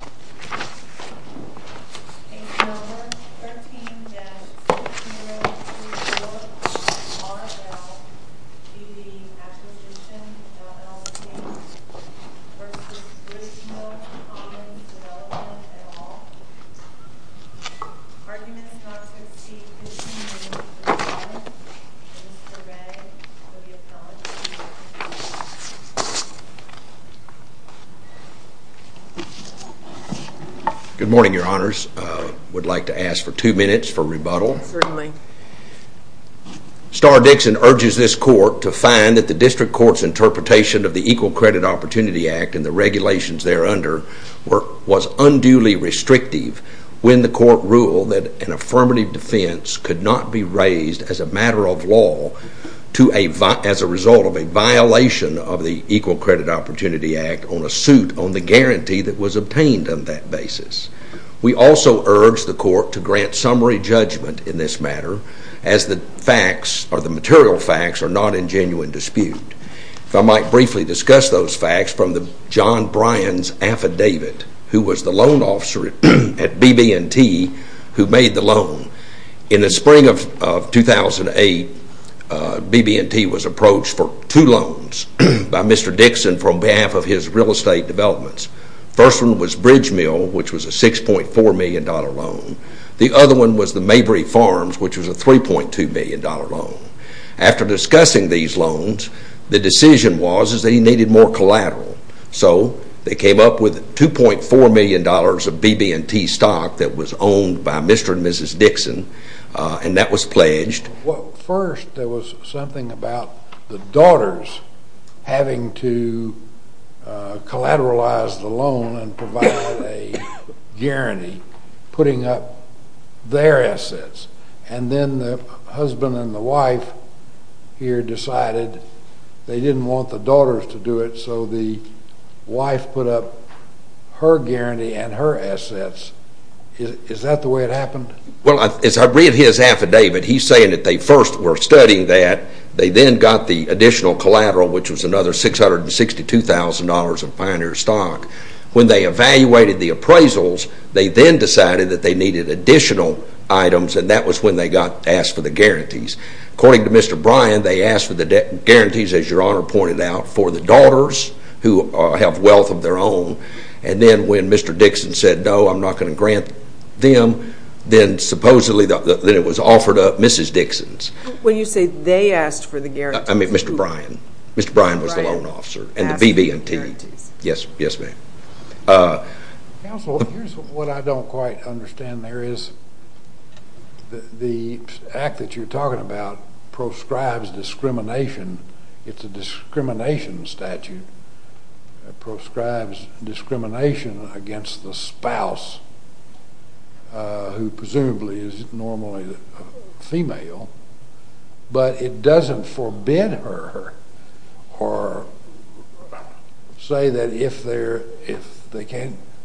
at all. Arguments not to exceed 15 minutes in silence. Mr. Wray will be appelled. Good morning, your honors. I would like to ask for two minutes for rebuttal. Certainly. Starr Dixon urges this court to find that the district court's interpretation of the Equal Credit Opportunity Act and the regulations there under was unduly restrictive when the court ruled that an affirmative defense could not be raised as a matter of law as a result of a violation of the Equal Credit Opportunity Act on a suit on the guarantee that was obtained on that basis. We also urge the court to grant summary judgment in this matter as the facts or the material facts are not in genuine dispute. If I might briefly discuss those facts from John Bryan's affidavit, who was the loan officer at BB&T who made the loan. In the spring of 2008, BB&T was approached for two loans by Mr. Dixon from behalf of his real estate developments. The first one was Bridgemill, which was a $6.4 million loan. The other one was the Mabry Farms, which was a $3.2 million loan. After discussing these loans, the decision was that he needed more collateral. So they came up with $2.4 million of BB&T stock that was owned by Mr. and Mrs. Dixon, and that was pledged. Well, first there was something about the daughters having to collateralize the loan and provide a guarantee, putting up their assets. And then the husband and the wife here decided they didn't want the daughters to do it, so the wife put up her guarantee and her assets. Is that the way it happened? Well, as I read his affidavit, he's saying that they first were studying that. They then got the additional collateral, which was another $662,000 of Pioneer stock. When they evaluated the appraisals, they then decided that they needed additional items, and that was when they got asked for the guarantees. According to Mr. Bryan, they asked for the guarantees, as Your Honor pointed out, for the daughters who have wealth of their own. And then when Mr. Dixon said, no, I'm not going to grant them, then supposedly it was offered up Mrs. Dixon's. When you say they asked for the guarantees, who? I mean Mr. Bryan. Mr. Bryan was the loan officer and the BB&T. Yes, yes ma'am. Counsel, here's what I don't quite understand there is. The act that you're talking about proscribes discrimination. It's a discrimination statute. It proscribes discrimination against the spouse, who presumably is normally a female, but it doesn't forbid her or say that if her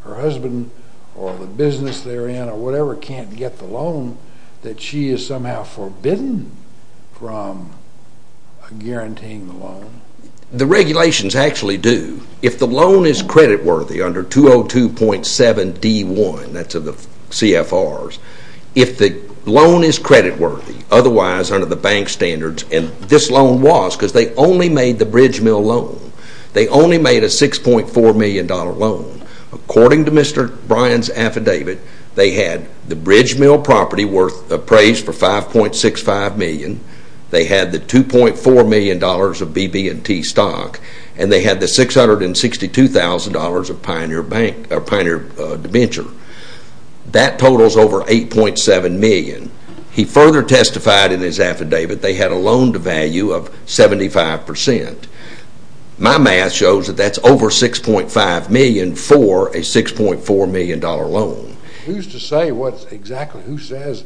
husband or the business they're in or whatever can't get the loan, that she is somehow forbidden from guaranteeing the loan. The regulations actually do. If the loan is creditworthy under 202.7D1, that's of the CFRs, if the loan is creditworthy, otherwise under the bank standards, and this loan was because they only made the Bridge Mill loan. They only made a $6.4 million loan. According to Mr. Bryan's affidavit, they had the Bridge Mill property worth appraised for $5.65 million. They had the $2.4 million of BB&T stock, and they had the $662,000 of Pioneer Bank or Pioneer DeVenture. That totals over $8.7 million. He further testified in his affidavit they had a loan to value of 75%. My math shows that that's over $6.5 million for a $6.4 million loan. Who's to say exactly who says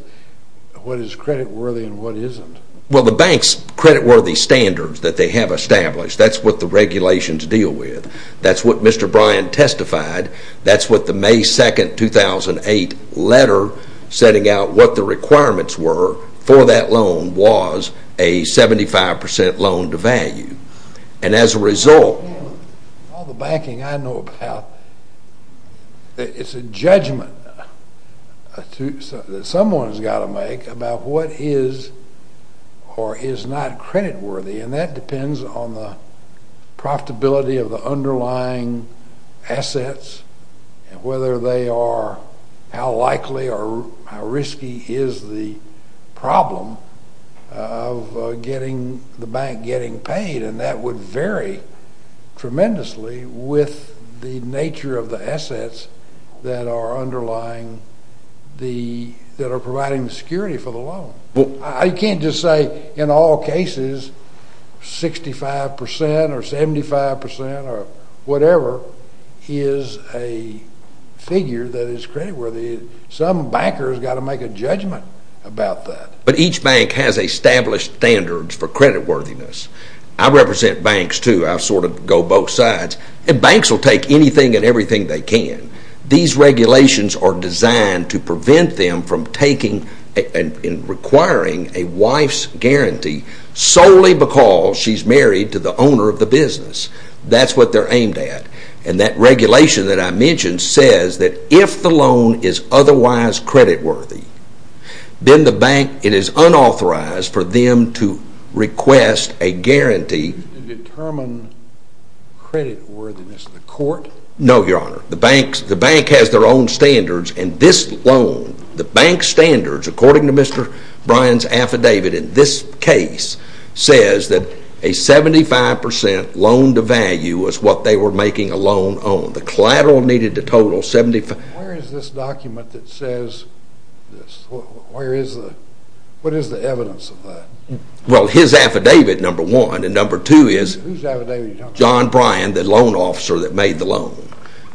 what is creditworthy and what isn't? Well, the bank's creditworthy standards that they have established, that's what the regulations deal with. That's what Mr. Bryan testified. That's what the May 2, 2008 letter setting out what the requirements were for that loan was a 75% loan to value. And as a result... All the banking I know about, it's a judgment that someone's got to make about what is or is not creditworthy, and that depends on the profitability of the underlying assets and whether they are how likely or how risky is the problem of the bank getting paid. And that would vary tremendously with the nature of the assets that are underlying the... that are providing the security for the loan. Well, I can't just say in all cases 65% or 75% or whatever is a figure that is creditworthy. Some banker's got to make a judgment about that. But each bank has established standards for creditworthiness. I represent banks, too. I sort of go both sides. And banks will take anything and everything they can. These regulations are designed to prevent them from taking and requiring a wife's guarantee solely because she's married to the owner of the business. That's what they're aimed at. And that regulation that I mentioned says that if the loan is otherwise creditworthy, then the bank, it is unauthorized for them to request a guarantee... To determine creditworthiness in the court? No, Your Honor. The bank has their own standards. And this loan, the bank's standards, according to Mr. Bryan's affidavit in this case, says that a 75% loan to value is what they were making a loan on. The collateral needed to total 75... Where is this document that says this? Where is the... What is the evidence of that? Well, his affidavit, number one. And number two is... Whose affidavit are you talking about? John Bryan, the loan officer that made the loan.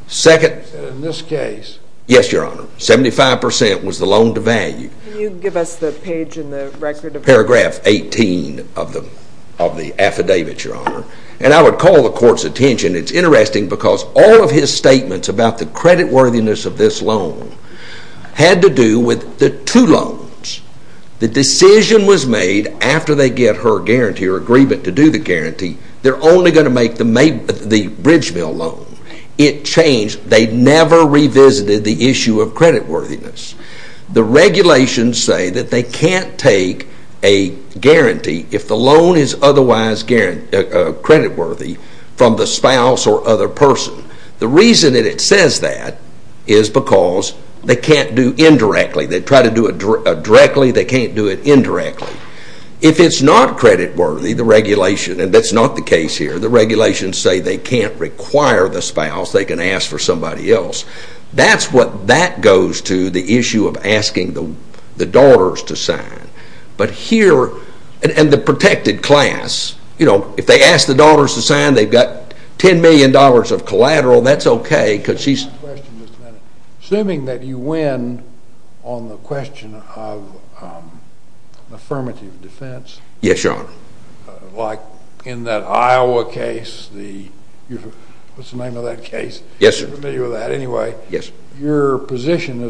Second... And in this case... Yes, Your Honor. 75% was the loan to value. Can you give us the page in the record of... Paragraph 18 of the affidavit, Your Honor. And I would call the court's attention. It's interesting because all of his statements about the creditworthiness of this loan had to do with the two loans. The decision was made after they get her guarantee or agreement to do the guarantee. They're only going to make the bridge mill loan. It changed. They never revisited the issue of creditworthiness. The regulations say that they can't take a guarantee, if the loan is otherwise creditworthy, from the spouse or other person. The reason that it says that is because they can't do indirectly. They can't do it indirectly. If it's not creditworthy, the regulation, and that's not the case here, the regulations say they can't require the spouse. They can ask for somebody else. That's what that goes to, the issue of asking the daughters to sign. But here, and the protected class, you know, if they ask the daughters to sign, they've got $10 million of collateral. That's okay because she's... Assuming that you win on the question of affirmative defense. Yes, Your Honor. Like in that Iowa case, what's the name of that case? Yes, sir. You're familiar with that anyway. Yes. Your position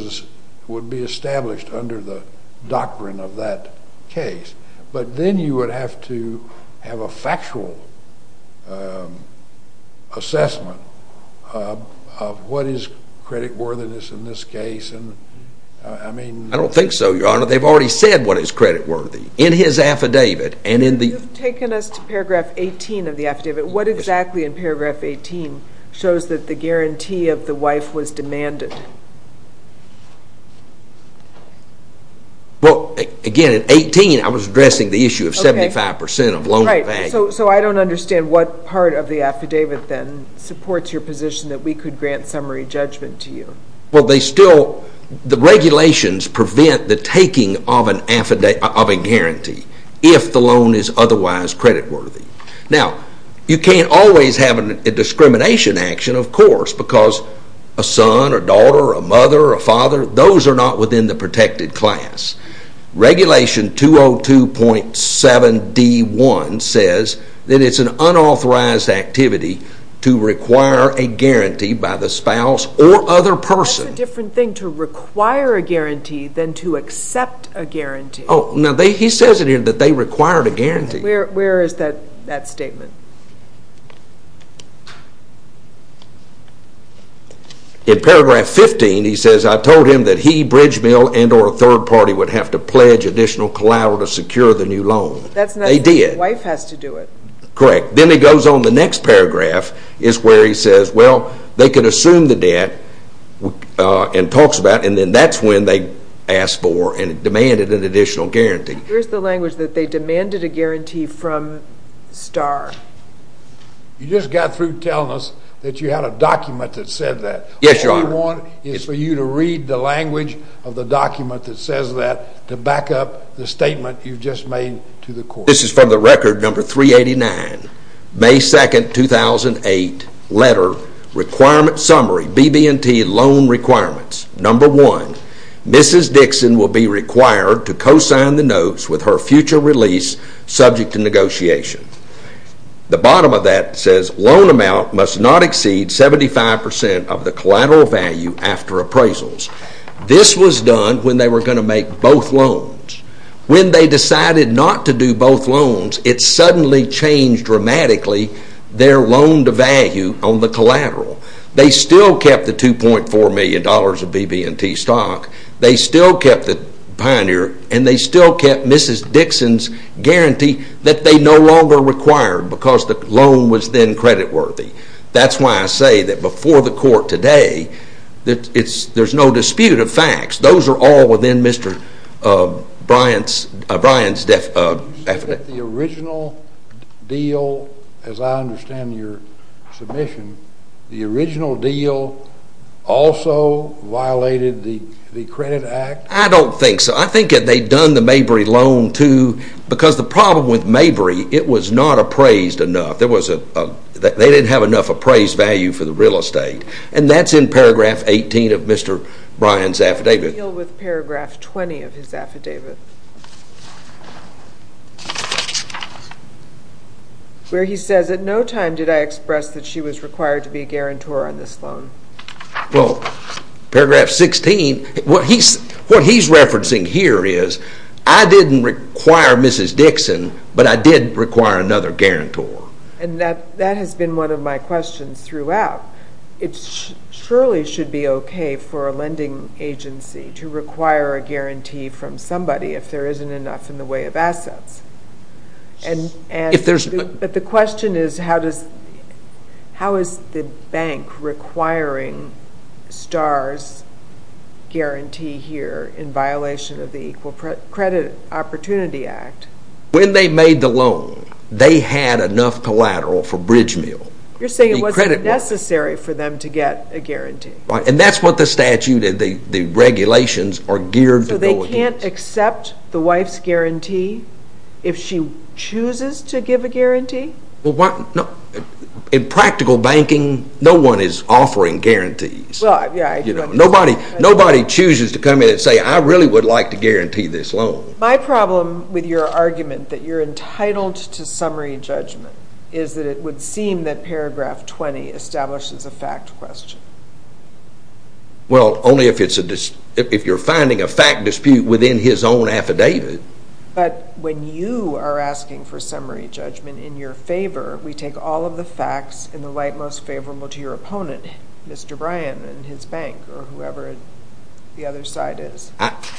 would be established under the doctrine of that case. But then you would have to have a factual assessment of what is creditworthiness in this case. I mean... I don't think so, Your Honor. They've already said what is creditworthy in his affidavit. You've taken us to paragraph 18 of the affidavit. What exactly in paragraph 18 shows that the guarantee of the wife was demanded? Well, again, in 18, I was addressing the issue of 75% of loan... Right. So I don't understand what part of the affidavit then supports your position that we could grant summary judgment to you. Well, they still... The regulations prevent the taking of a guarantee if the loan is otherwise creditworthy. Now, you can't always have a discrimination action, of course, because a son, a daughter, a mother, a father, those are not within the protected class. Regulation 202.7d.1 says that it's an unauthorized activity to require a guarantee by the spouse or other person. That's a different thing to require a guarantee than to accept a guarantee. Oh, now he says it here that they required a guarantee. Where is that statement? In paragraph 15, he says, I told him that he, Bridge Mill, and or a third party would have to pledge additional collateral to secure the new loan. That's not... They did. The wife has to do it. Correct. Then he goes on the next paragraph is where he says, well, they could assume the debt and talks about it, and then that's when they asked for and demanded an additional guarantee. Here's the language that they demanded a guarantee from Star. You just got through telling us that you had a document that said that. Yes, Your Honor. All we want is for you to read the language of the document that says that to back up the statement you've just made to the court. This is from the record number 389, May 2, 2008, letter, requirement summary, BB&T loan requirements. Number one, Mrs. Dixon will be required to co-sign the notes with her future release subject to negotiation. The bottom of that says, loan amount must not exceed 75% of the collateral value after appraisals. This was done when they were going to make both loans. When they decided not to do both loans, it suddenly changed dramatically their loan to value on the collateral. They still kept the $2.4 million of BB&T stock. They still kept the Pioneer, and they still kept Mrs. Dixon's guarantee that they no longer required because the loan was then creditworthy. That's why I say that before the court today, there's no dispute of facts. Those are all within Mr. Bryan's definition. The original deal, as I understand your submission, the original deal also violated the credit act? I don't think so. I think that they'd done the Mabry loan, too, because the problem with Mabry, it was not appraised enough. They didn't have enough appraised value for the real estate, and that's in paragraph 18 of Mr. Bryan's affidavit. What's the deal with paragraph 20 of his affidavit? Where he says, at no time did I express that she was required to be a guarantor on this loan. Well, paragraph 16, what he's referencing here is, I didn't require Mrs. Dixon, but I did require another guarantor. And that has been one of my questions throughout. It surely should be okay for a lending agency to require a guarantee from somebody if there isn't enough in the way of assets. But the question is, how is the bank requiring Star's guarantee here in violation of the Equal Credit Opportunity Act? When they made the loan, they had enough collateral for Bridge Mill. You're saying it wasn't necessary for them to get a guarantee. And that's what the statute and the regulations are geared to go against. So they can't accept the wife's guarantee if she chooses to give a guarantee? In practical banking, no one is offering guarantees. Nobody chooses to come in and say, I really would like to guarantee this loan. My problem with your argument that you're entitled to summary judgment is that it would seem that paragraph 20 establishes a fact question. Well, only if you're finding a fact dispute within his own affidavit. But when you are asking for summary judgment in your favor, we take all of the facts in the light most favorable to your opponent, Mr. Bryan and his bank, or whoever the other side is.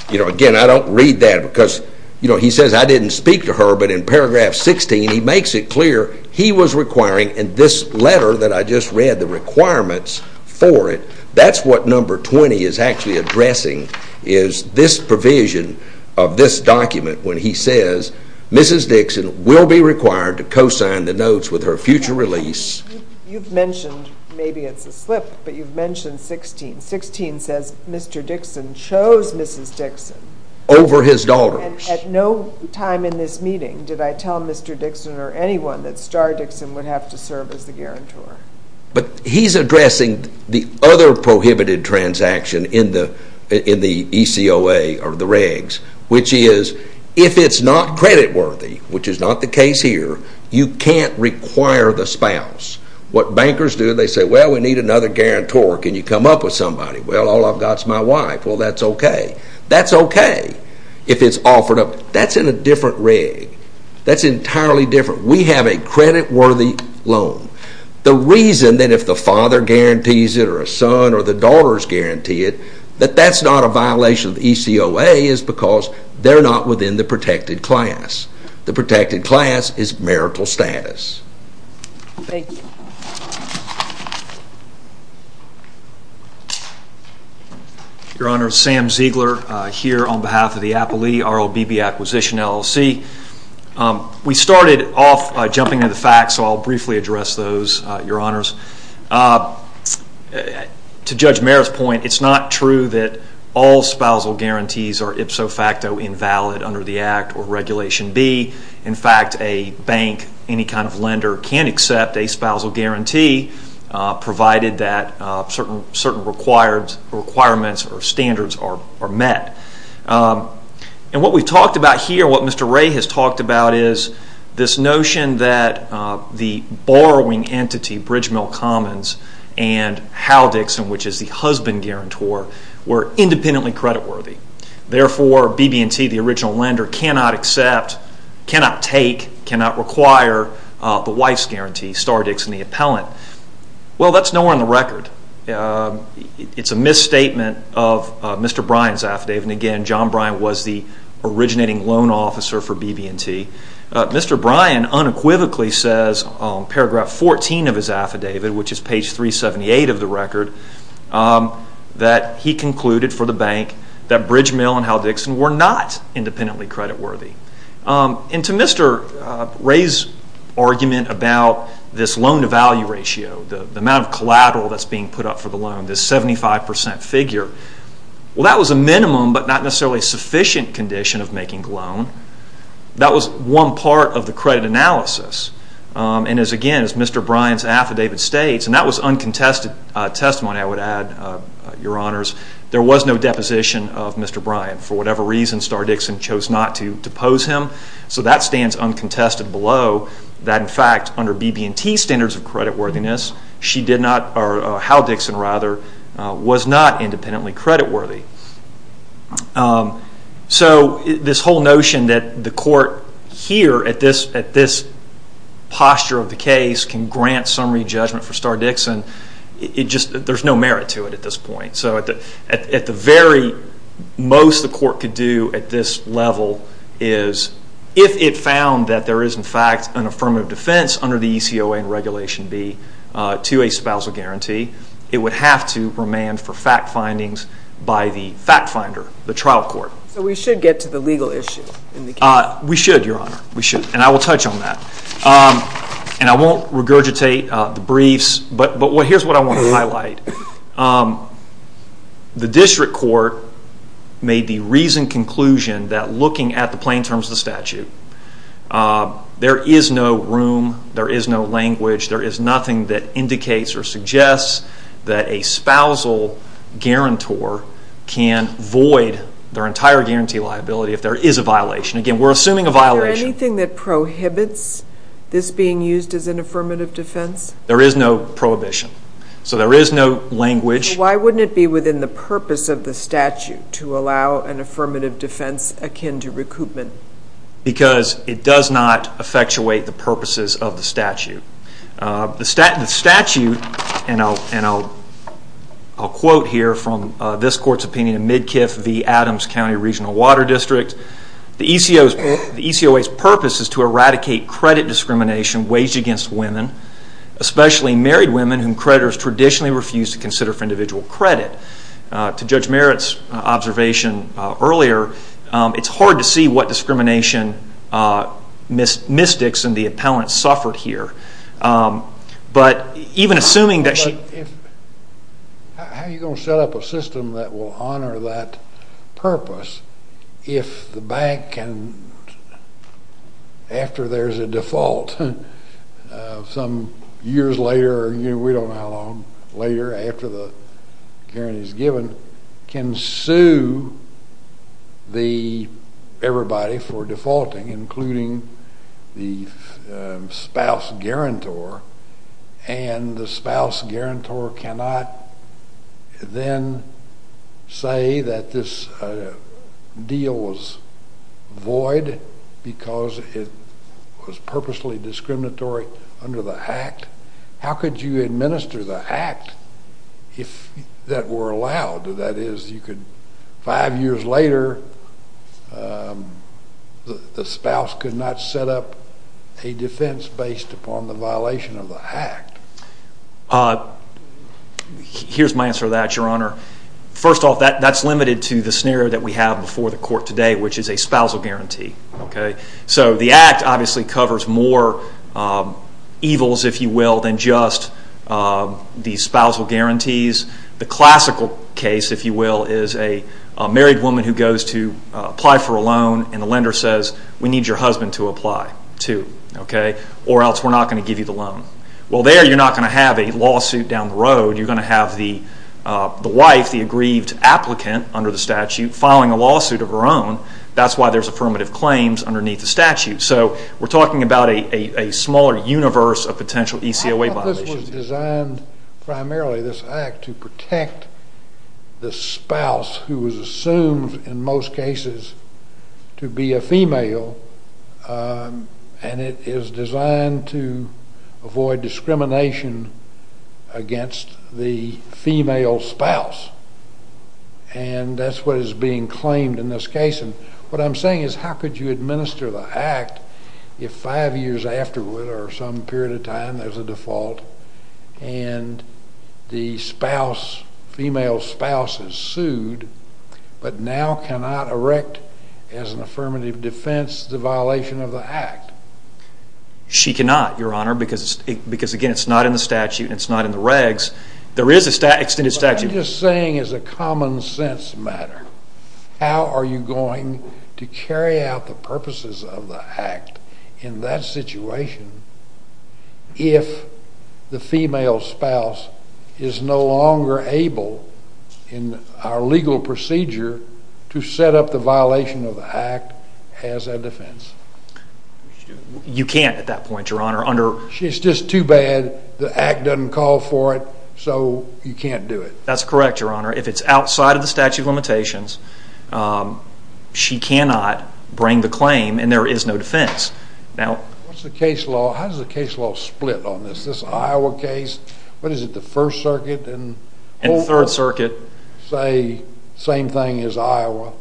Again, I don't read that because he says, I didn't speak to her. But in paragraph 16, he makes it clear he was requiring in this letter that I just read the requirements for it. That's what number 20 is actually addressing is this provision of this document when he says, Mrs. Dixon will be required to co-sign the notes with her future release. You've mentioned, maybe it's a slip, but you've mentioned 16. 16 says, Mr. Dixon chose Mrs. Dixon over his daughter. And at no time in this meeting did I tell Mr. Dixon or anyone that Star Dixon would have to serve as the guarantor. But he's addressing the other prohibited transaction in the ECOA or the regs, which is, if it's not credit worthy, which is not the case here, you can't require the spouse. What bankers do, they say, well, we need another guarantor. Can you come up with somebody? Well, all I've got is my wife. Well, that's okay. That's okay if it's offered up. That's in a different reg. That's entirely different. We have a credit worthy loan. The reason that if the father guarantees it or a son or the daughters guarantee it, that that's not a violation of the ECOA is because they're not within the protected class. The protected class is marital status. Thank you. Your Honor, Sam Ziegler here on behalf of the Apolee RLBB Acquisition LLC. We started off by jumping to the facts, so I'll briefly address those, Your Honors. To Judge Merritt's point, it's not true that all spousal guarantees are ipso facto invalid under the Act or Regulation B. In fact, a bank, any kind of lender, can accept a spousal guarantee provided that certain requirements or standards are met. And what we've talked about here, what Mr. Ray has talked about, is this notion that the borrowing entity, Bridge Mill Commons, and Hal Dixon, which is the husband guarantor, were independently credit worthy. Therefore, BB&T, the original lender, cannot accept, cannot take, cannot require the wife's guarantee, Stardix and the appellant. Well, that's nowhere in the record. It's a misstatement of Mr. Bryan's affidavit. And again, John Bryan was the originating loan officer for BB&T. Mr. Bryan unequivocally says, paragraph 14 of his affidavit, which is page 378 of the record, that he concluded for the bank that Bridge Mill and Hal Dixon were not independently credit worthy. And to Mr. Ray's argument about this loan-to-value ratio, the amount of collateral that's being put up for the loan, this 75% figure, well, that was a minimum but not necessarily sufficient condition of making a loan. That was one part of the credit analysis. And again, as Mr. Bryan's affidavit states, and that was uncontested testimony, I would add, Your Honors, there was no deposition of Mr. Bryan. For whatever reason, Stardix and chose not to depose him. So that stands uncontested below that, in fact, under BB&T's standards of credit worthiness, Hal Dixon was not independently credit worthy. So this whole notion that the court here, at this posture of the case, can grant summary judgment for Stardix, there's no merit to it at this point. So at the very most the court could do at this level is, if it found that there is, in fact, an affirmative defense under the ECOA and Regulation B to a spousal guarantee, it would have to remand for fact findings by the fact finder, the trial court. So we should get to the legal issue in the case? We should, Your Honor. We should. And I will touch on that. And I won't regurgitate the briefs, but here's what I want to highlight. The district court made the reasoned conclusion that looking at the plain terms of the statute, there is no room, there is no language, there is nothing that indicates or suggests that a spousal guarantor can void their entire guarantee liability if there is a violation. Again, we're assuming a violation. Is there anything that prohibits this being used as an affirmative defense? There is no prohibition. So there is no language. Why wouldn't it be within the purpose of the statute to allow an affirmative defense akin to recoupment? Because it does not effectuate the purposes of the statute. The statute, and I'll quote here from this court's opinion, Midkiff v. Adams County Regional Water District, the ECOA's purpose is to eradicate credit discrimination waged against women, especially married women whom creditors traditionally refuse to consider for individual credit. To Judge Merritt's observation earlier, it's hard to see what discrimination mystics and the appellants suffered here. But even assuming that she... How are you going to set up a system that will honor that purpose if the bank can, after there's a default, some years later or we don't know how long later after the guarantee is given, can sue everybody for defaulting, including the spouse guarantor, and the spouse guarantor cannot then say that this deal was void because it was purposely discriminatory under the act? How could you administer the act if that were allowed? That is, you could, five years later, the spouse could not set up a defense based upon the violation of the act. Here's my answer to that, Your Honor. First off, that's limited to the scenario that we have before the court today, which is a spousal guarantee. The act obviously covers more evils than just the spousal guarantees. The classical case is a married woman who goes to apply for a loan and the lender says, we need your husband to apply too, or else we're not going to give you the loan. There you're not going to have a lawsuit down the road. You're going to have the wife, the aggrieved applicant under the statute, filing a lawsuit of her own. That's why there's affirmative claims underneath the statute. So we're talking about a smaller universe of potential ECOA violations. I thought this was designed primarily, this act, to protect the spouse who was assumed in most cases to be a female, and it is designed to avoid discrimination against the female spouse, and that's what is being claimed in this case. What I'm saying is how could you administer the act if five years afterward or some period of time there's a default and the spouse, female spouse, is sued but now cannot erect as an affirmative defense the violation of the act? She cannot, Your Honor, because, again, it's not in the statute and it's not in the regs. There is an extended statute. What I'm just saying is a common sense matter. How are you going to carry out the purposes of the act in that situation if the female spouse is no longer able in our legal procedure to set up the violation of the act as a defense? You can't at that point, Your Honor. It's just too bad the act doesn't call for it, so you can't do it. That's correct, Your Honor. If it's outside of the statute of limitations, she cannot bring the claim, and there is no defense. What's the case law? How does the case law split on this? Is this an Iowa case? What is it, the First Circuit? And Third Circuit. Say the same thing as Iowa?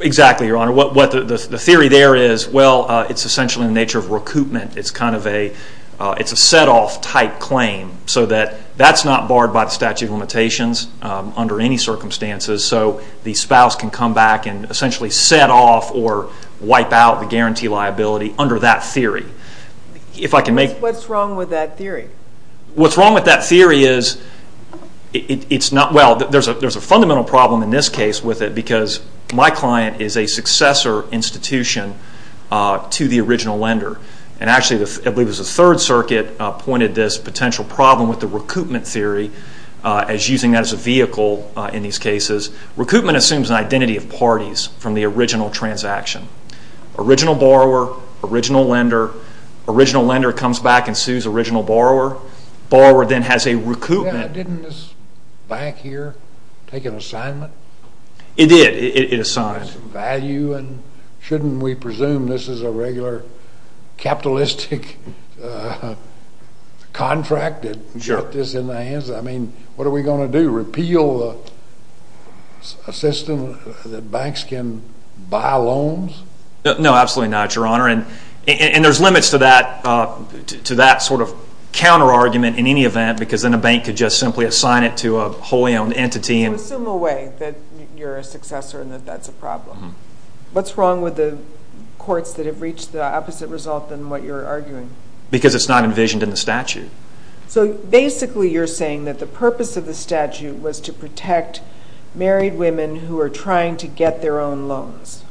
Exactly, Your Honor. The theory there is, well, it's essentially in the nature of recoupment. It's a set-off type claim so that that's not barred by the statute of limitations under any circumstances, so the spouse can come back and essentially set off or wipe out the guarantee liability under that theory. What's wrong with that theory? What's wrong with that theory is it's not, well, there's a fundamental problem in this case with it because my client is a successor institution to the original lender. And actually, I believe it was the Third Circuit pointed this potential problem with the recoupment theory as using that as a vehicle in these cases. Recoupment assumes an identity of parties from the original transaction. Original borrower, original lender. Original lender comes back and sues original borrower. Borrower then has a recoupment. Didn't this bank here take an assignment? It did. It assigned. Value and shouldn't we presume this is a regular capitalistic contract that got this in the hands? I mean, what are we going to do, repeal a system that banks can buy loans? No, absolutely not, Your Honor. And there's limits to that sort of counter-argument in any event because then a bank could just simply assign it to a wholly owned entity. You assume away that you're a successor and that that's a problem. What's wrong with the courts that have reached the opposite result than what you're arguing? Because it's not envisioned in the statute. So basically you're saying that the purpose of the statute was to protect married women who are trying to get their own loans.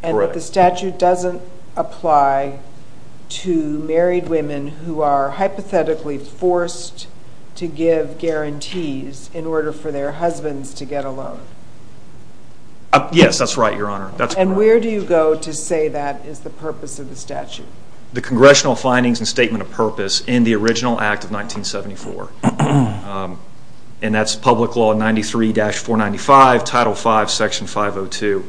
Correct. And that the statute doesn't apply to married women who are hypothetically forced to give guarantees in order for their husbands to get a loan. Yes, that's right, Your Honor. And where do you go to say that is the purpose of the statute? The Congressional findings and statement of purpose in the original Act of 1974. And that's Public Law 93-495, Title V, Section 502.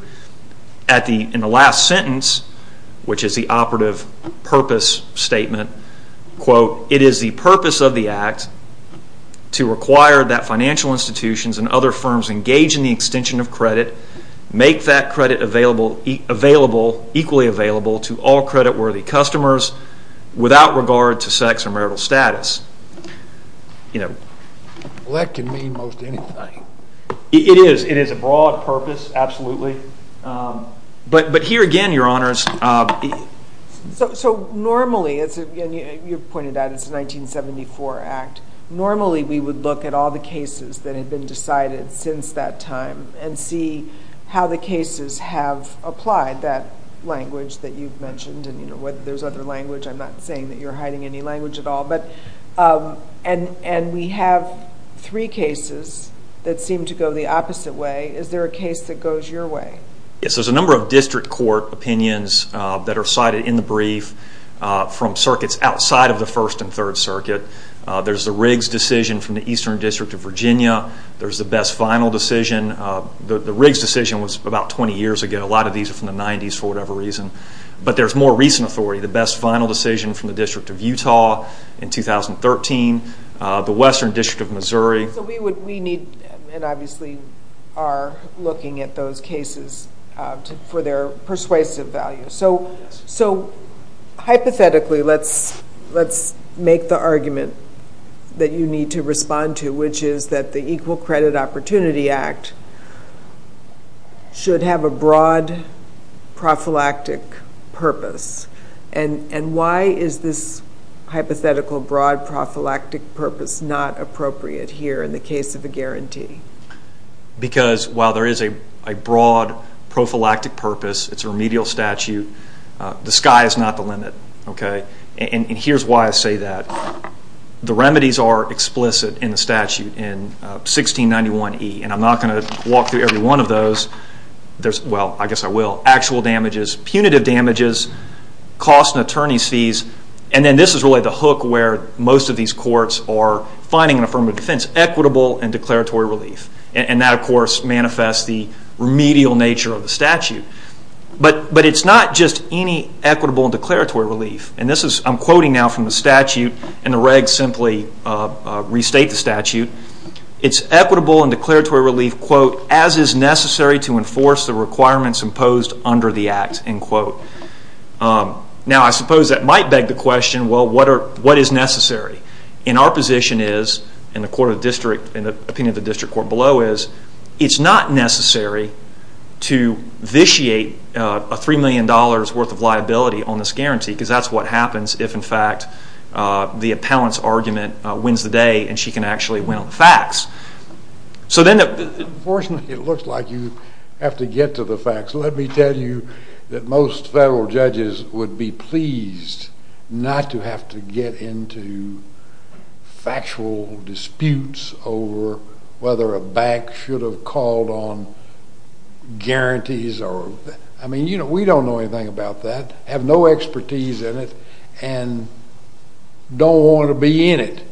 In the last sentence, which is the operative purpose statement, it is the purpose of the Act to require that financial institutions make that credit equally available to all credit-worthy customers without regard to sex or marital status. Well, that can mean most anything. It is. It is a broad purpose, absolutely. But here again, Your Honors... So normally, as you pointed out, it's a 1974 Act. Normally we would look at all the cases that had been decided since that time and see how the cases have applied that language that you've mentioned, and whether there's other language. I'm not saying that you're hiding any language at all. And we have three cases that seem to go the opposite way. Is there a case that goes your way? Yes, there's a number of district court opinions that are cited in the brief from circuits outside of the First and Third Circuit. There's the Riggs decision from the Eastern District of Virginia. There's the Best Vinyl decision. The Riggs decision was about 20 years ago. A lot of these are from the 90s for whatever reason. But there's more recent authority. The Best Vinyl decision from the District of Utah in 2013. The Western District of Missouri. So we need and obviously are looking at those cases for their persuasive value. So hypothetically, let's make the argument that you need to respond to, which is that the Equal Credit Opportunity Act should have a broad prophylactic purpose. And why is this hypothetical broad prophylactic purpose not appropriate here in the case of a guarantee? Because while there is a broad prophylactic purpose, it's a remedial statute, the sky is not the limit. And here's why I say that. The remedies are explicit in the statute in 1691E. And I'm not going to walk through every one of those. Well, I guess I will. Actual damages, punitive damages, costs and attorney's fees. And then this is really the hook where most of these courts are finding an affirmative defense. Equitable and declaratory relief. And that, of course, manifests the remedial nature of the statute. But it's not just any equitable and declaratory relief. And I'm quoting now from the statute. And the regs simply restate the statute. It's equitable and declaratory relief, quote, as is necessary to enforce the requirements imposed under the act, end quote. Now, I suppose that might beg the question, well, what is necessary? And our position is, and the opinion of the district court below is, it's not necessary to vitiate a $3 million worth of liability on this guarantee because that's what happens if, in fact, the appellant's argument wins the day and she can actually win on the facts. So then the... Unfortunately, it looks like you have to get to the facts. Let me tell you that most federal judges would be pleased not to have to get into factual disputes over whether a bank should have called on guarantees. I mean, you know, we don't know anything about that. I have no expertise in it and don't want to be in it.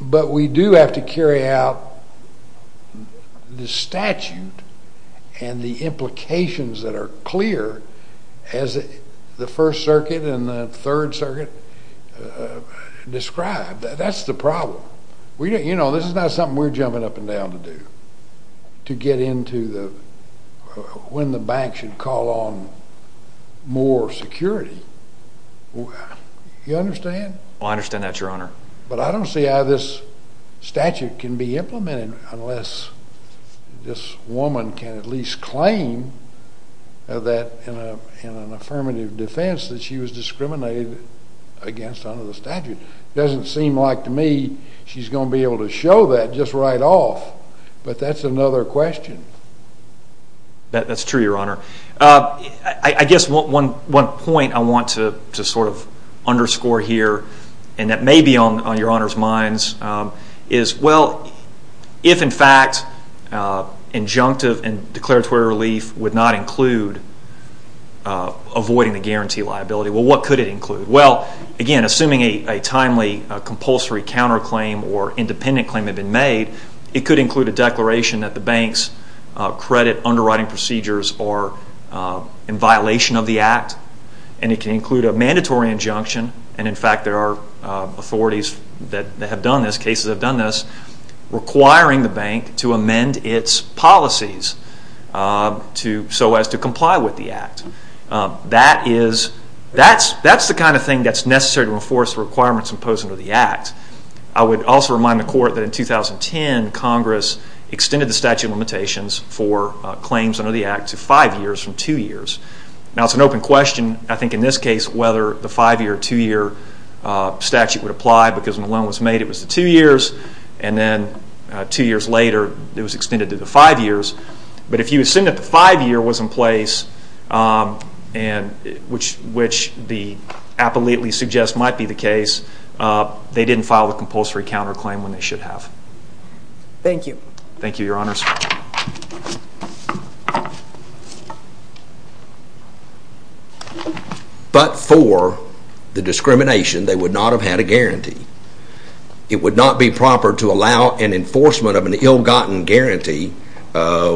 But we do have to carry out the statute and the implications that are clear as the First Circuit and the Third Circuit describe. That's the problem. You know, this is not something we're jumping up and down to do to get into when the bank should call on more security. You understand? I understand that, Your Honor. But I don't see how this statute can be implemented unless this woman can at least claim that in an affirmative defense that she was discriminated against under the statute. It doesn't seem like to me she's going to be able to show that just right off. But that's another question. That's true, Your Honor. I guess one point I want to sort of underscore here, and that may be on Your Honor's minds, is, well, if in fact injunctive and declaratory relief would not include avoiding the guarantee liability, well, what could it include? Well, again, assuming a timely compulsory counterclaim or independent claim had been made, it could include a declaration that the bank's credit underwriting procedures are in violation of the Act. And it can include a mandatory injunction. And, in fact, there are authorities that have done this, cases that have done this, requiring the bank to amend its policies so as to comply with the Act. That's the kind of thing that's necessary to enforce the requirements imposed under the Act. I would also remind the Court that in 2010, Congress extended the statute of limitations for claims under the Act to five years from two years. Now, it's an open question, I think, in this case, whether the five-year or two-year statute would apply, because when the loan was made it was the two years, and then two years later it was extended to the five years. But if you assume that the five-year was in place, which the appellate suggests might be the case, they didn't file a compulsory counterclaim when they should have. Thank you. Thank you, Your Honors. But for the discrimination, they would not have had a guarantee. It would not be proper to allow an enforcement of an ill-gotten guarantee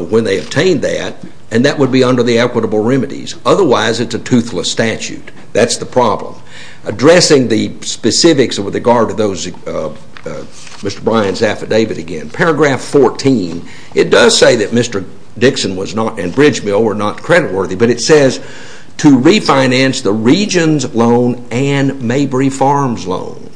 when they obtained that, and that would be under the equitable remedies. Otherwise, it's a toothless statute. That's the problem. Addressing the specifics with regard to Mr. Bryan's affidavit again, paragraph 14, it does say that Mr. Dixon and Bridge Mill were not creditworthy, but it says to refinance the Regions Loan and Mabry Farms Loan.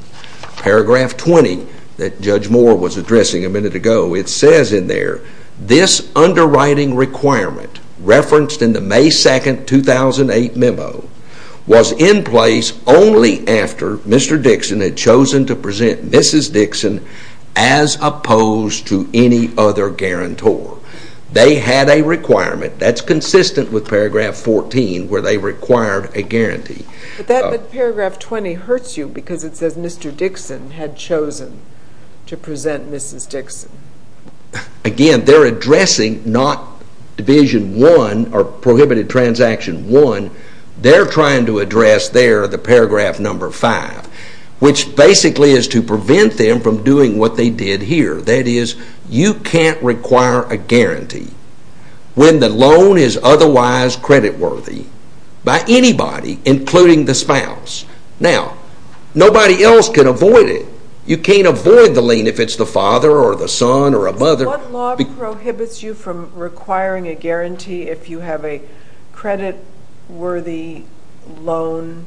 Paragraph 20 that Judge Moore was addressing a minute ago, it says in there, this underwriting requirement referenced in the May 2, 2008 memo, was in place only after Mr. Dixon had chosen to present Mrs. Dixon as opposed to any other guarantor. They had a requirement. That's consistent with paragraph 14 where they required a guarantee. But paragraph 20 hurts you because it says Mr. Dixon had chosen to present Mrs. Dixon. Again, they're addressing not Division 1 or Prohibited Transaction 1. They're trying to address there the paragraph number 5, which basically is to prevent them from doing what they did here. That is, you can't require a guarantee when the loan is otherwise creditworthy by anybody, including the spouse. Now, nobody else can avoid it. You can't avoid the lien if it's the father or the son or a mother. What law prohibits you from requiring a guarantee if you have a creditworthy loan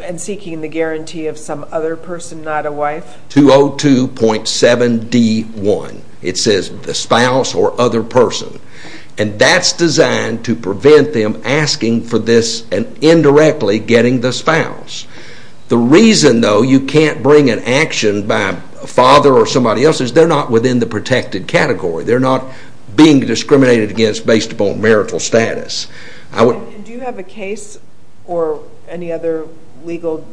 and seeking the guarantee of some other person, not a wife? 202.7d.1. It says the spouse or other person. And that's designed to prevent them asking for this and indirectly getting the spouse. The reason, though, you can't bring an action by a father or somebody else is they're not within the protected category. They're not being discriminated against based upon marital status. Do you have a case or any other legal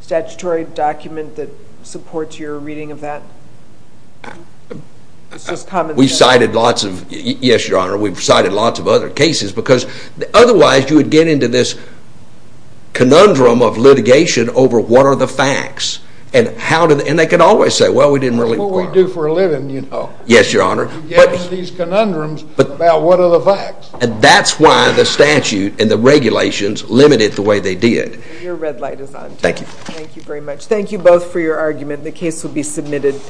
statutory document that supports your reading of that? We've cited lots of, yes, Your Honor, we've cited lots of other cases because otherwise you would get into this conundrum of litigation over what are the facts. And they could always say, well, we didn't really require them. That's what we do for a living, you know. Yes, Your Honor. We get into these conundrums about what are the facts. And that's why the statute and the regulations limited the way they did. Your red light is on. Thank you. Thank you very much. Thank you both for your argument. The case will be submitted.